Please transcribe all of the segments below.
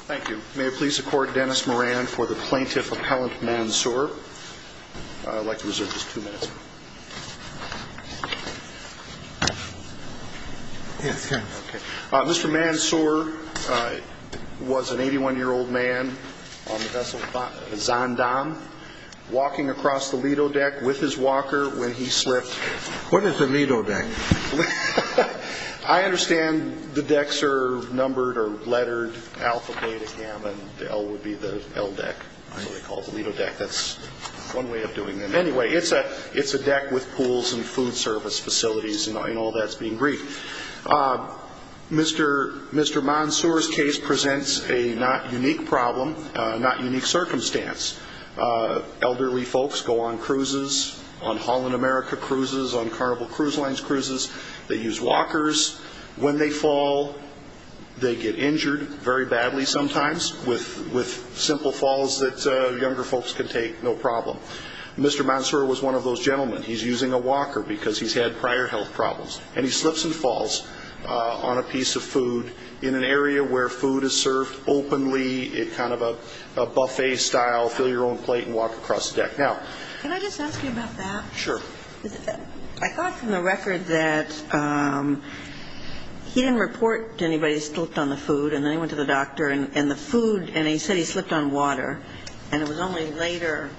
Thank you. May it please the Court, Dennis Moran for the Plaintiff Appellant Mansoor. I'd like to reserve just two minutes. Yes, go ahead. Mr. Mansoor was an 81-year-old man on the vessel Zaandam, walking across the Lido deck with his walker when he slipped. What is a Lido deck? I understand the decks are numbered or lettered, alpha, beta, gamma, and L would be the L deck. That's what they call the Lido deck. That's one way of doing it. Anyway, it's a deck with pools and food service facilities and all that's being briefed. Mr. Mansoor's case presents a not unique problem, not unique circumstance. Elderly folks go on cruises, on Holland America cruises, on Carnival Cruise Lines cruises. They use walkers. When they fall, they get injured very badly sometimes with simple falls that younger folks can take no problem. Mr. Mansoor was one of those gentlemen. He's using a walker because he's had prior health problems, and he slips and falls on a piece of food in an area where food is served openly, kind of a buffet style, fill your own plate and walk across the deck. Now, can I just ask you about that? Sure. I thought from the record that he didn't report to anybody he slipped on the food, and then he went to the doctor, and the food, and he said he slipped on water, and it was only later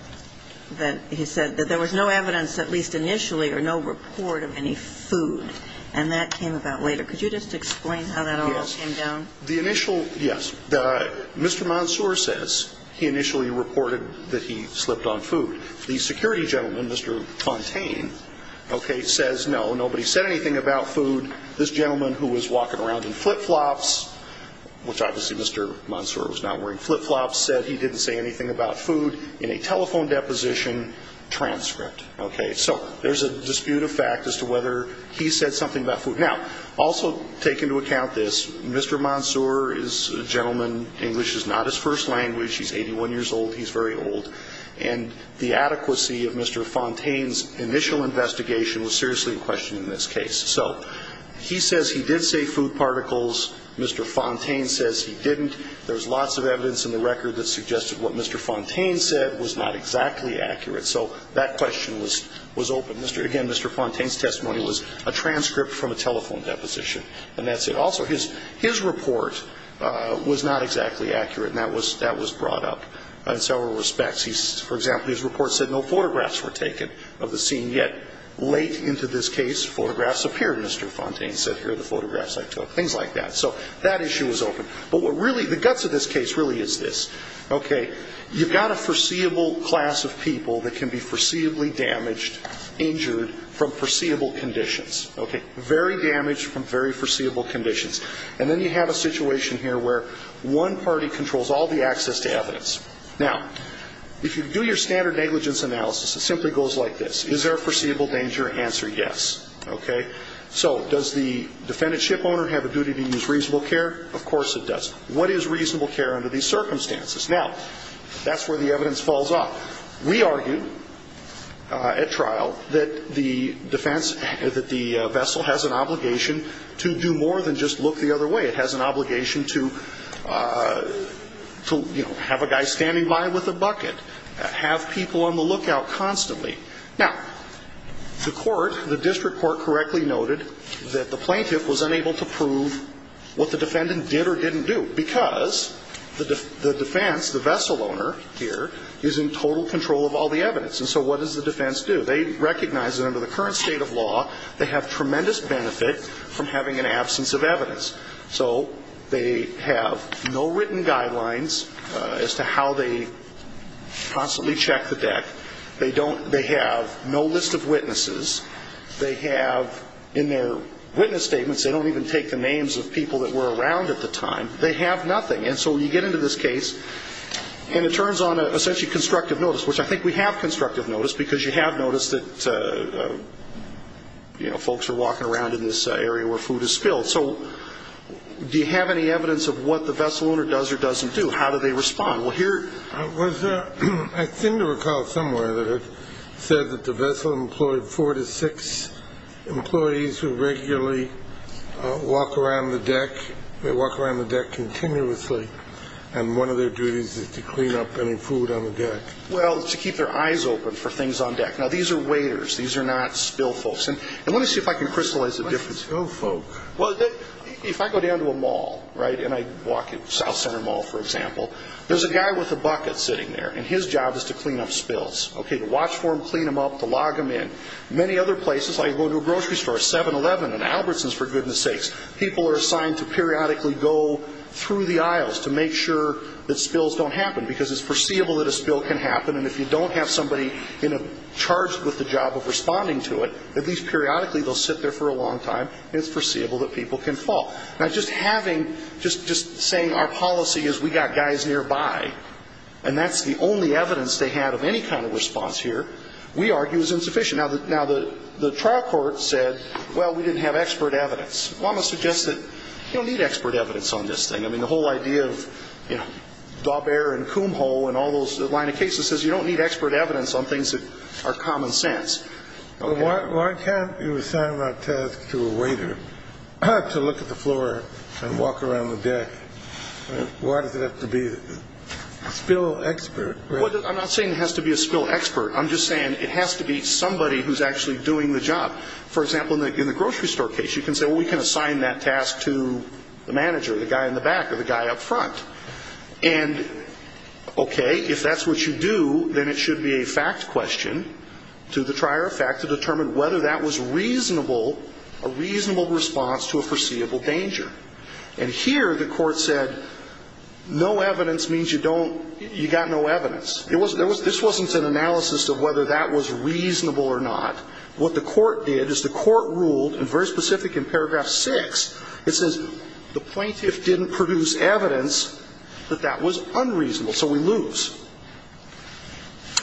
that he said that there was no evidence, at least initially, or no report of any food, and that came about later. Could you just explain how that all came down? The initial, yes, Mr. Mansoor says he initially reported that he slipped on food. The security gentleman, Mr. Fontaine, says no, nobody said anything about food. This gentleman who was walking around in flip-flops, which obviously Mr. Mansoor was not wearing flip-flops, said he didn't say anything about food in a telephone deposition transcript. So there's a dispute of fact as to whether he said something about food. Now, also take into account this. Mr. Mansoor is a gentleman. English is not his first language. He's 81 years old. He's very old. And the adequacy of Mr. Fontaine's initial investigation was seriously in question in this case. So he says he did say food particles. Mr. Fontaine says he didn't. There's lots of evidence in the record that suggested what Mr. Fontaine said was not exactly accurate. So that question was open. Again, Mr. Fontaine's testimony was a transcript from a telephone deposition. And that's it. Also, his report was not exactly accurate, and that was brought up in several respects. For example, his report said no photographs were taken of the scene, yet late into this case photographs appeared. Mr. Fontaine said, here are the photographs I took, things like that. So that issue was open. But what really the guts of this case really is this, okay, you've got a foreseeable class of people that can be foreseeably damaged, injured from foreseeable conditions. Okay. Very damaged from very foreseeable conditions. And then you have a situation here where one party controls all the access to evidence. Now, if you do your standard negligence analysis, it simply goes like this. Is there a foreseeable danger? Answer, yes. Okay. So does the defendantship owner have a duty to use reasonable care? Of course it does. What is reasonable care under these circumstances? Now, that's where the evidence falls off. We argue at trial that the defense, that the vessel has an obligation to do more than just look the other way. It has an obligation to, you know, have a guy standing by with a bucket, have people on the lookout constantly. Now, the court, the district court correctly noted that the plaintiff was unable to prove what the defendant did or didn't do, because the defense, the vessel owner here, is in total control of all the evidence. And so what does the defense do? They recognize that under the current state of law, they have tremendous benefit from having an absence of evidence. So they have no written guidelines as to how they possibly check the deck. They don't, they have no list of witnesses. They have, in their witness statements, they don't even take the names of people that were around at the time. They have nothing. And so you get into this case, and it turns on essentially constructive notice, which I think we have constructive notice, because you have noticed that, you know, folks are walking around in this area where food is spilled. So do you have any evidence of what the vessel owner does or doesn't do? How do they respond? I seem to recall somewhere that it said that the vessel employed four to six employees who regularly walk around the deck. They walk around the deck continuously. And one of their duties is to clean up any food on the deck. Well, to keep their eyes open for things on deck. Now, these are waiters. These are not spill folks. And let me see if I can crystallize the difference. What's spill folks? Well, if I go down to a mall, right, and I walk at South Center Mall, for example, there's a guy with a bucket sitting there, and his job is to clean up spills. Okay, to watch for them, clean them up, to log them in. Many other places, like if you go to a grocery store, 7-Eleven, and Albertsons, for goodness sakes, people are assigned to periodically go through the aisles to make sure that spills don't happen, because it's foreseeable that a spill can happen. And if you don't have somebody charged with the job of responding to it, at least periodically they'll sit there for a long time, and it's foreseeable that people can fall. Now, just having, just saying our policy is we got guys nearby, and that's the only evidence they had of any kind of response here, we argue is insufficient. Now, the trial court said, well, we didn't have expert evidence. Well, I'm going to suggest that you don't need expert evidence on this thing. I mean, the whole idea of, you know, Daubert and Kumho and all those line of cases says you don't need expert evidence on things that are common sense. Why can't you assign that task to a waiter to look at the floor and walk around the deck? Why does it have to be a spill expert? Well, I'm not saying it has to be a spill expert. I'm just saying it has to be somebody who's actually doing the job. For example, in the grocery store case, you can say, well, we can assign that task to the manager, the guy in the back or the guy up front. And, okay, if that's what you do, then it should be a fact question to the trier of fact to determine whether that was reasonable, a reasonable response to a foreseeable danger. And here the court said no evidence means you don't, you got no evidence. This wasn't an analysis of whether that was reasonable or not. What the court did is the court ruled, and very specific in paragraph 6, it says the plaintiff didn't produce evidence that that was unreasonable. So we lose.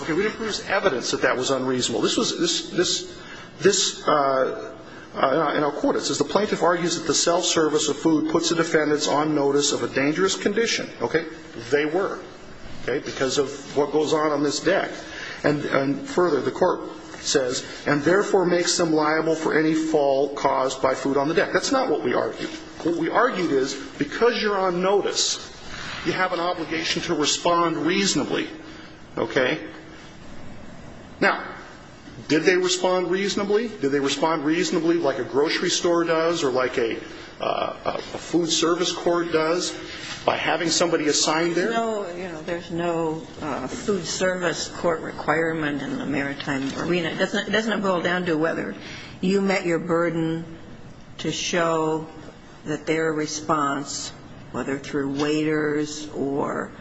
Okay, we didn't produce evidence that that was unreasonable. This was this, this, this, and I'll quote it. It says the plaintiff argues that the self-service of food puts the defendants on notice of a dangerous condition. Okay, they were, okay, because of what goes on on this deck. And further, the court says, and therefore makes them liable for any fault caused by food on the deck. That's not what we argued. What we argued is because you're on notice, you have an obligation to respond reasonably. Okay? Now, did they respond reasonably? Did they respond reasonably like a grocery store does or like a food service court does by having somebody assigned there? No, you know, there's no food service court requirement in the maritime arena. Doesn't it boil down to whether you met your burden to show that their response, whether through waiters or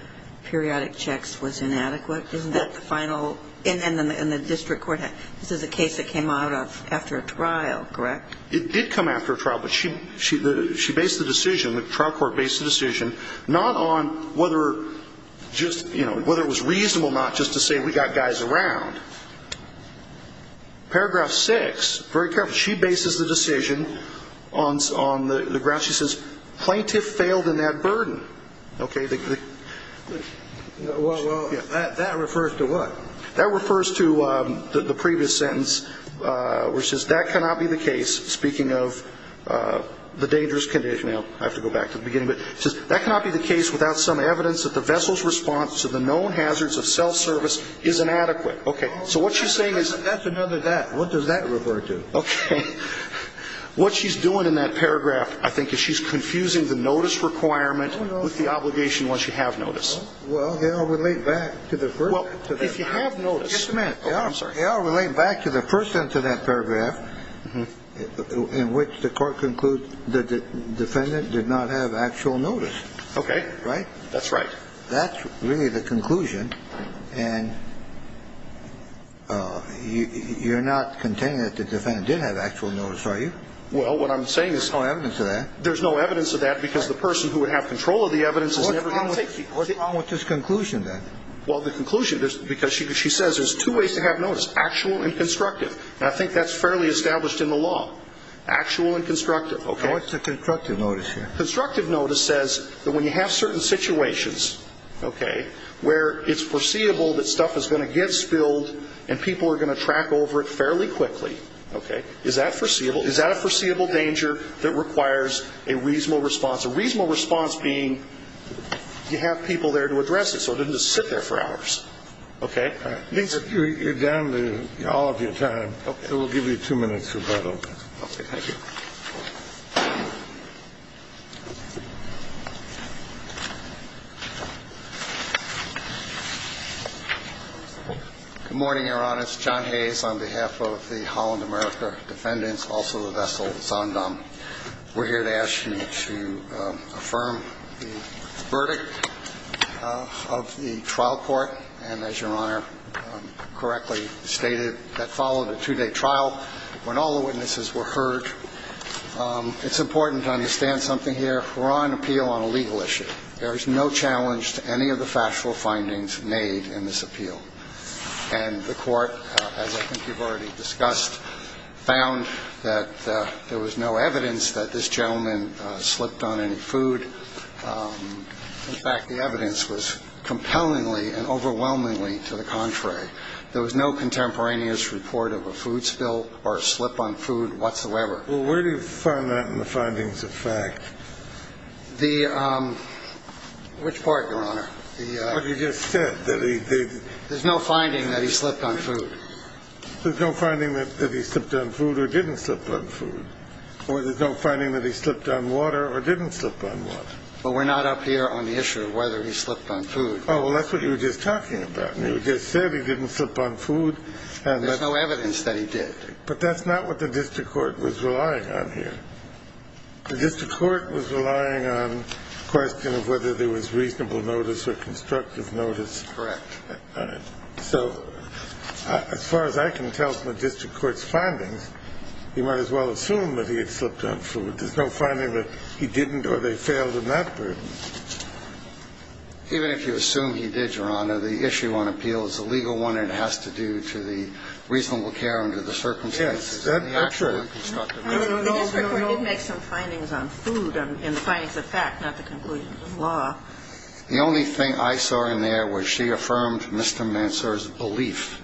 periodic checks, was inadequate? Isn't that the final? And the district court, this is a case that came out after a trial, correct? It did come after a trial, but she based the decision, the trial court based the decision not on whether just, you know, whether it was reasonable not just to say we got guys around. Paragraph 6, very careful, she bases the decision on the grounds, she says, plaintiff failed in that burden. Okay? Well, that refers to what? That refers to the previous sentence where it says that cannot be the case, speaking of the dangerous condition. I have to go back to the beginning, but it says that cannot be the case without some evidence that the vessel's response to the known hazards of self-service is inadequate. Okay. So what she's saying is... That's another that. What does that refer to? Okay. What she's doing in that paragraph, I think, is she's confusing the notice requirement with the obligation once you have notice. Well, they all relate back to the first sentence. Well, if you have notice. Just a minute. Okay, I'm sorry. They all relate back to the first sentence of that paragraph in which the court concludes that the defendant did not have actual notice. Okay. Right? That's right. That's really the conclusion, and you're not contending that the defendant did have actual notice, are you? Well, what I'm saying is... There's no evidence of that. There's no evidence of that because the person who would have control of the evidence is never going to take... What's wrong with this conclusion then? Well, the conclusion, because she says there's two ways to have notice, actual and constructive. And I think that's fairly established in the law, actual and constructive. Okay. What's the constructive notice here? Constructive notice says that when you have certain situations, okay, where it's foreseeable that stuff is going to get spilled and people are going to track over it fairly quickly. Okay. Is that foreseeable? Is that a foreseeable danger that requires a reasonable response? A reasonable response being you have people there to address it, so it doesn't just sit there for hours. Okay. All right. You're down to all of your time. Okay. So we'll give you two minutes, Roberto. Okay. Thank you. Good morning, Your Honor. It's John Hayes on behalf of the Holland America defendants, also the vessel Zondam. We're here to ask you to affirm the verdict of the trial court. And as Your Honor correctly stated, that followed a two-day trial when all the witnesses were heard. It's important to understand something here. We're on appeal on a legal issue. There is no challenge to any of the factual findings made in this appeal. And the court, as I think you've already discussed, found that there was no evidence that this gentleman slipped on any food. In fact, the evidence was compellingly and overwhelmingly to the contrary. There was no contemporaneous report of a food spill or a slip on food whatsoever. Well, where do you find that in the findings of fact? The – which part, Your Honor? What you just said. There's no finding that he slipped on food. There's no finding that he slipped on food or didn't slip on food. Or there's no finding that he slipped on water or didn't slip on water. Well, we're not up here on the issue of whether he slipped on food. Oh, well, that's what you were just talking about. You just said he didn't slip on food. There's no evidence that he did. But that's not what the district court was relying on here. The district court was relying on the question of whether there was reasonable notice or constructive notice. Correct. So as far as I can tell from the district court's findings, you might as well assume that he had slipped on food. There's no finding that he didn't or they failed in that burden. Even if you assume he did, Your Honor, the issue on appeal is the legal one, and it has to do to the reasonable care under the circumstances. Yes, that's right. The district court did make some findings on food and the findings of fact, not the conclusions of law. The only thing I saw in there was she affirmed Mr. Mansour's belief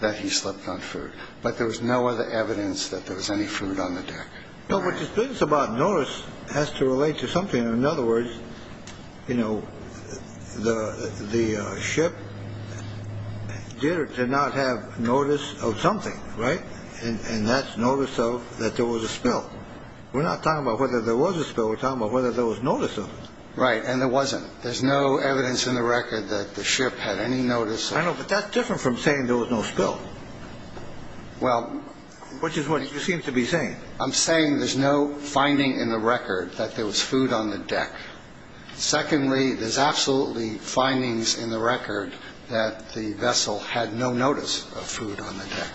that he slipped on food. But there was no other evidence that there was any food on the deck. No, but this business about notice has to relate to something. In other words, you know, the ship did or did not have notice of something. Right. And that's notice of that there was a spill. We're not talking about whether there was a spill. We're talking about whether there was notice of. Right. And there wasn't. There's no evidence in the record that the ship had any notice. I know. But that's different from saying there was no spill. Well, which is what you seem to be saying. I'm saying there's no finding in the record that there was food on the deck. Secondly, there's absolutely findings in the record that the vessel had no notice of food on the deck.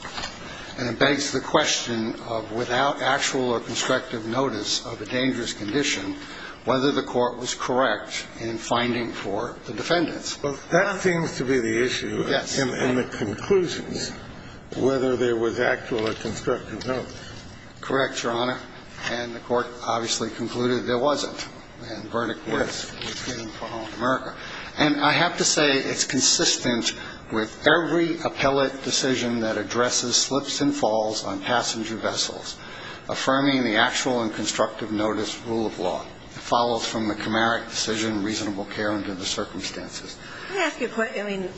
And it begs the question of without actual or constructive notice of a dangerous condition, whether the Court was correct in finding for the defendants. Well, that seems to be the issue. Yes. In the conclusions, whether there was actual or constructive notice. Correct, Your Honor. And the Court obviously concluded there wasn't. And the verdict was given for Holland America. And I have to say it's consistent with every appellate decision that addresses slips and falls on passenger vessels, affirming the actual and constructive notice rule of law. It follows from the Cameric decision, reasonable care under the circumstances. Can I ask you a question? I mean,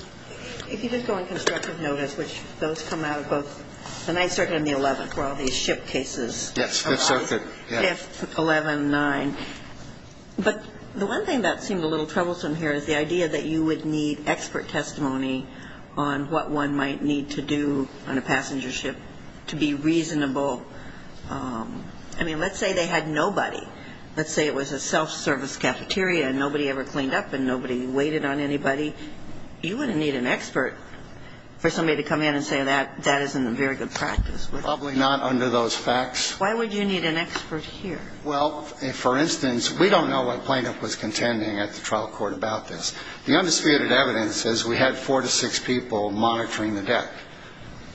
if you just go on constructive notice, which those come out of both the 9th Circuit and the 11th, where all these ship cases are on. Yes, 5th Circuit. 5th, 11th, 9th. But the one thing that seemed a little troublesome here is the idea that you would need expert testimony on what one might need to do on a passenger ship to be reasonable. I mean, let's say they had nobody. Let's say it was a self-service cafeteria and nobody ever cleaned up and nobody waited on anybody. You wouldn't need an expert for somebody to come in and say that that isn't a very good practice. Probably not under those facts. Why would you need an expert here? Well, for instance, we don't know what plaintiff was contending at the trial court about this. The undisputed evidence is we had four to six people monitoring the deck.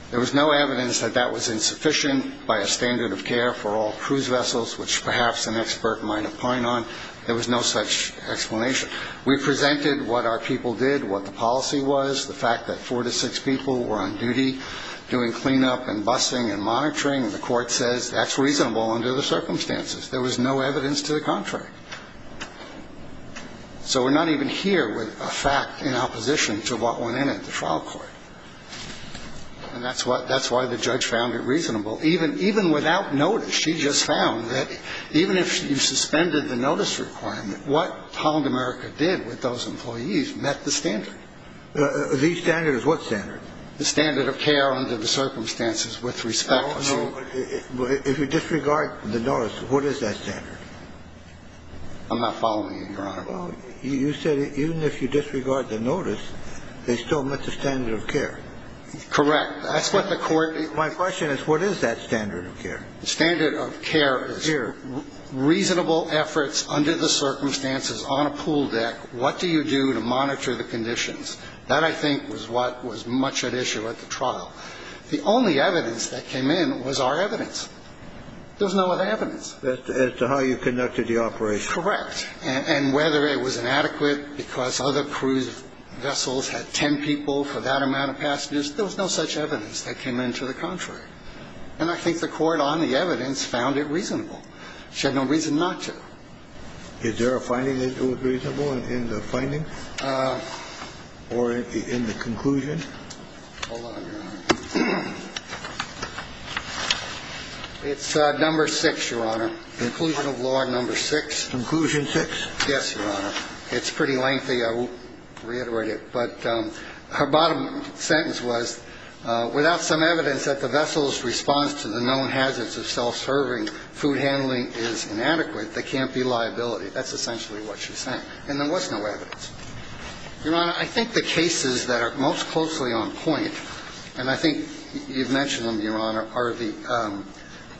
There was no evidence that that was insufficient by a standard of care for all cruise vessels, which perhaps an expert might opine on. There was no such explanation. We presented what our people did, what the policy was, the fact that four to six people were on duty doing cleanup and busing and monitoring, and the court says that's reasonable under the circumstances. There was no evidence to the contrary. So we're not even here with a fact in opposition to what went in at the trial court. And that's why the judge found it reasonable. Even without notice, she just found that even if you suspended the notice requirement, what Holland America did with those employees met the standard. The standard is what standard? The standard of care under the circumstances with respect to. Well, no. If you disregard the notice, what is that standard? I'm not following you, Your Honor. Well, you said even if you disregard the notice, they still met the standard of care. Correct. That's what the court. My question is what is that standard of care? The standard of care is reasonable efforts under the circumstances on a pool deck. What do you do to monitor the conditions? That I think was what was much at issue at the trial. The only evidence that came in was our evidence. There was no other evidence. As to how you conducted the operation. Correct. And whether it was inadequate because other cruise vessels had 10 people for that amount of passengers, there was no such evidence that came in to the contrary. And I think the court on the evidence found it reasonable. She had no reason not to. Is there a finding that it was reasonable in the findings? Or in the conclusion? Hold on, Your Honor. It's number six, Your Honor. Conclusion of law number six. Conclusion six? Yes, Your Honor. It's pretty lengthy. I won't reiterate it. But her bottom sentence was without some evidence that the vessel's response to the known hazards of self-serving food handling is inadequate, there can't be liability. That's essentially what she's saying. And there was no evidence. Your Honor, I think the cases that are most closely on point, and I think you've mentioned them, Your Honor, are the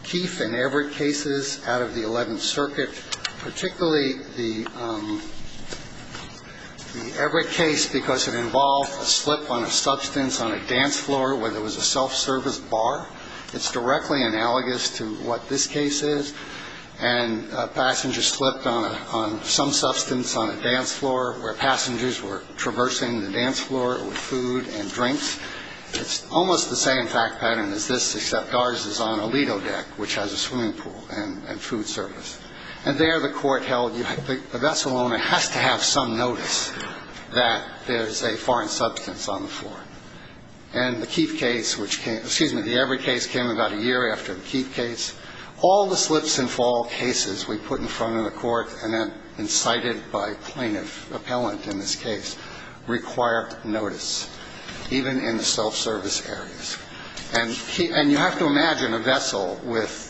Keefe and Everett cases out of the 11th Circuit, particularly the Everett case because it involved a slip on a substance on a dance floor where there was a self-service bar. It's directly analogous to what this case is. And a passenger slipped on some substance on a dance floor where passengers were traversing the dance floor with food and drinks. It's almost the same fact pattern as this, except ours is on a Lido deck, which has a swimming pool and food service. And there the court held the vessel owner has to have some notice that there's a foreign substance on the floor. And the Keefe case, which came – excuse me, the Everett case came about a year after the Keefe case. All the slips and fall cases we put in front of the court and then incited by plaintiff, appellant in this case, required notice, even in the self-service areas. And you have to imagine a vessel with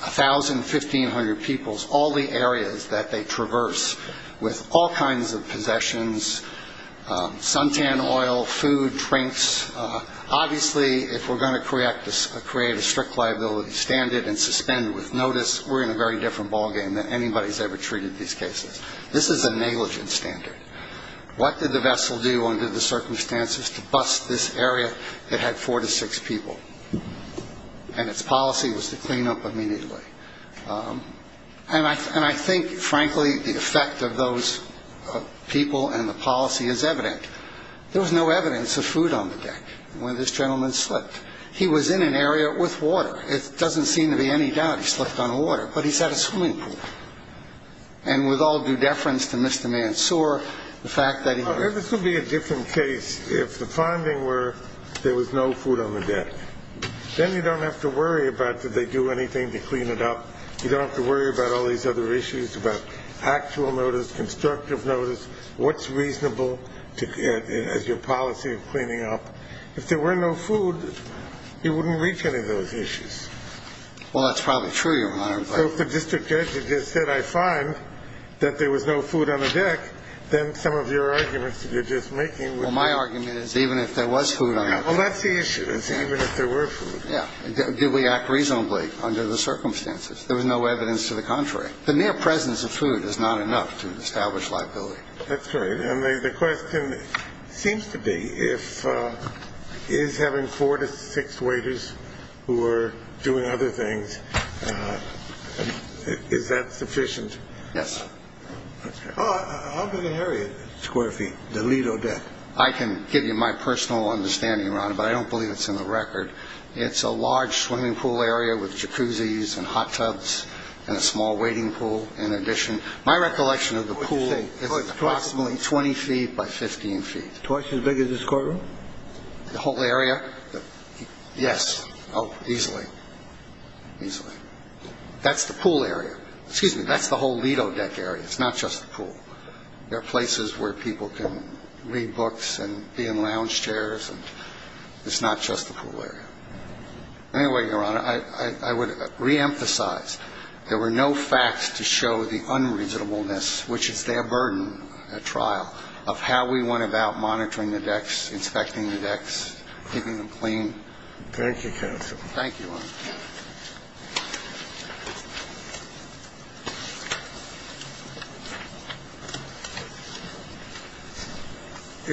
1,000, 1,500 peoples, all the areas that they traverse with all kinds of possessions, suntan oil, food, drinks. Obviously, if we're going to create a strict liability standard and suspend with notice, we're in a very different ballgame than anybody's ever treated these cases. This is a negligent standard. What did the vessel do under the circumstances to bust this area that had four to six people? And its policy was to clean up immediately. And I think, frankly, the effect of those people and the policy is evident. There was no evidence of food on the deck when this gentleman slipped. He was in an area with water. It doesn't seem to be any doubt he slipped on water. But he's at a swimming pool. And with all due deference to Mr. Mansour, the fact that he was – This would be a different case if the finding were there was no food on the deck. Then you don't have to worry about did they do anything to clean it up. You don't have to worry about all these other issues, about actual notice, constructive notice, what's reasonable as your policy of cleaning up. If there were no food, you wouldn't reach any of those issues. Well, that's probably true, Your Honor. So if the district judge had just said, I find that there was no food on the deck, then some of your arguments that you're just making would – Well, my argument is even if there was food on the deck – Well, that's the issue, is even if there were food. Yeah. Did we act reasonably under the circumstances? There was no evidence to the contrary. The mere presence of food is not enough to establish liability. That's right. And the question seems to be if – is having four to six waiters who are doing other things, is that sufficient? Yes. Okay. How big an area is Square Feet, the Lido Deck? I can give you my personal understanding, Your Honor, but I don't believe it's in the record. It's a large swimming pool area with jacuzzis and hot tubs and a small waiting pool in addition. My recollection of the pool is approximately 20 feet by 15 feet. Twice as big as this courtroom? The whole area? Yes. Oh, easily. Easily. That's the pool area. Excuse me. That's the whole Lido Deck area. It's not just the pool. There are places where people can read books and be in lounge chairs. It's not just the pool area. Anyway, Your Honor, I would reemphasize there were no facts to show the unreasonableness, which is their burden at trial, of how we went about monitoring the decks, inspecting the decks, keeping them clean. Thank you, counsel. Thank you, Your Honor. Thank you.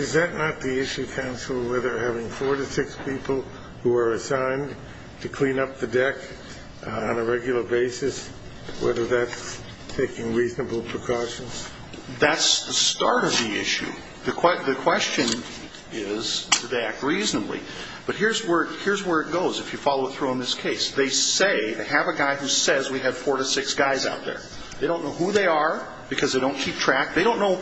Is that not the issue, counsel, whether having four to six people who are assigned to clean up the deck on a regular basis, whether that's taking reasonable precautions? That's the start of the issue. The question is, do they act reasonably? But here's where it goes, if you follow it through on this case. They say, they have a guy who says we have four to six guys out there. They don't know who they are because they don't keep track. They don't know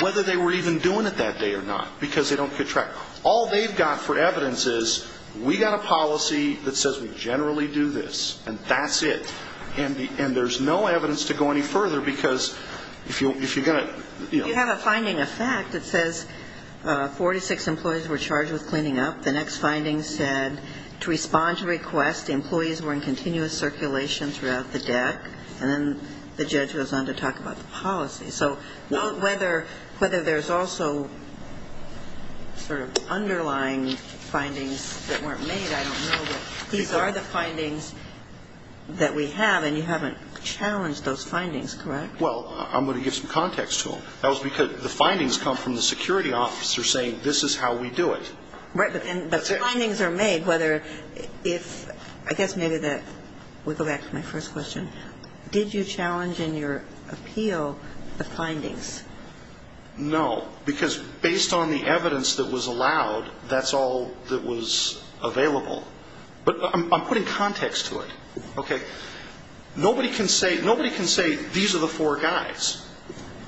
whether they were even doing it that day or not because they don't keep track. All they've got for evidence is, we've got a policy that says we generally do this, and that's it. And there's no evidence to go any further because if you're going to, you know. Well, you have a finding of fact that says four to six employees were charged with cleaning up. The next finding said, to respond to request, employees were in continuous circulation throughout the deck. And then the judge goes on to talk about the policy. So whether there's also sort of underlying findings that weren't made, I don't know. But these are the findings that we have, and you haven't challenged those findings, correct? Well, I'm going to give some context to them. That was because the findings come from the security officer saying, this is how we do it. Right, but the findings are made, whether if, I guess maybe that, we'll go back to my first question. Did you challenge in your appeal the findings? No, because based on the evidence that was allowed, that's all that was available. But I'm putting context to it, okay? Nobody can say these are the four guys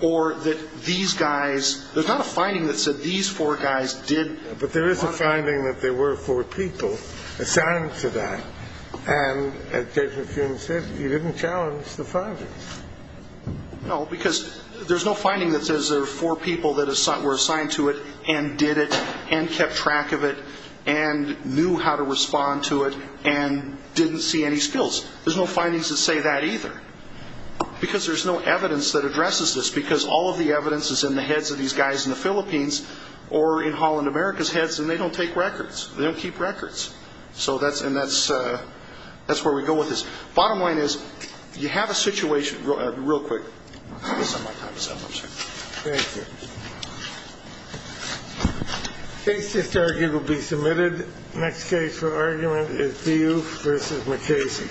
or that these guys, there's not a finding that said these four guys did. But there is a finding that there were four people assigned to that. And as Judge McKeown said, you didn't challenge the findings. No, because there's no finding that says there were four people that were assigned to it and did it and kept track of it and knew how to respond to it and didn't see any skills. There's no findings that say that either. Because there's no evidence that addresses this, because all of the evidence is in the heads of these guys in the Philippines or in Holland America's heads, and they don't take records. They don't keep records. So that's where we go with this. Bottom line is, you have a situation. Real quick. I'm sorry. Thank you. Case disargued will be submitted. Next case for argument is Diouf v. McCasey.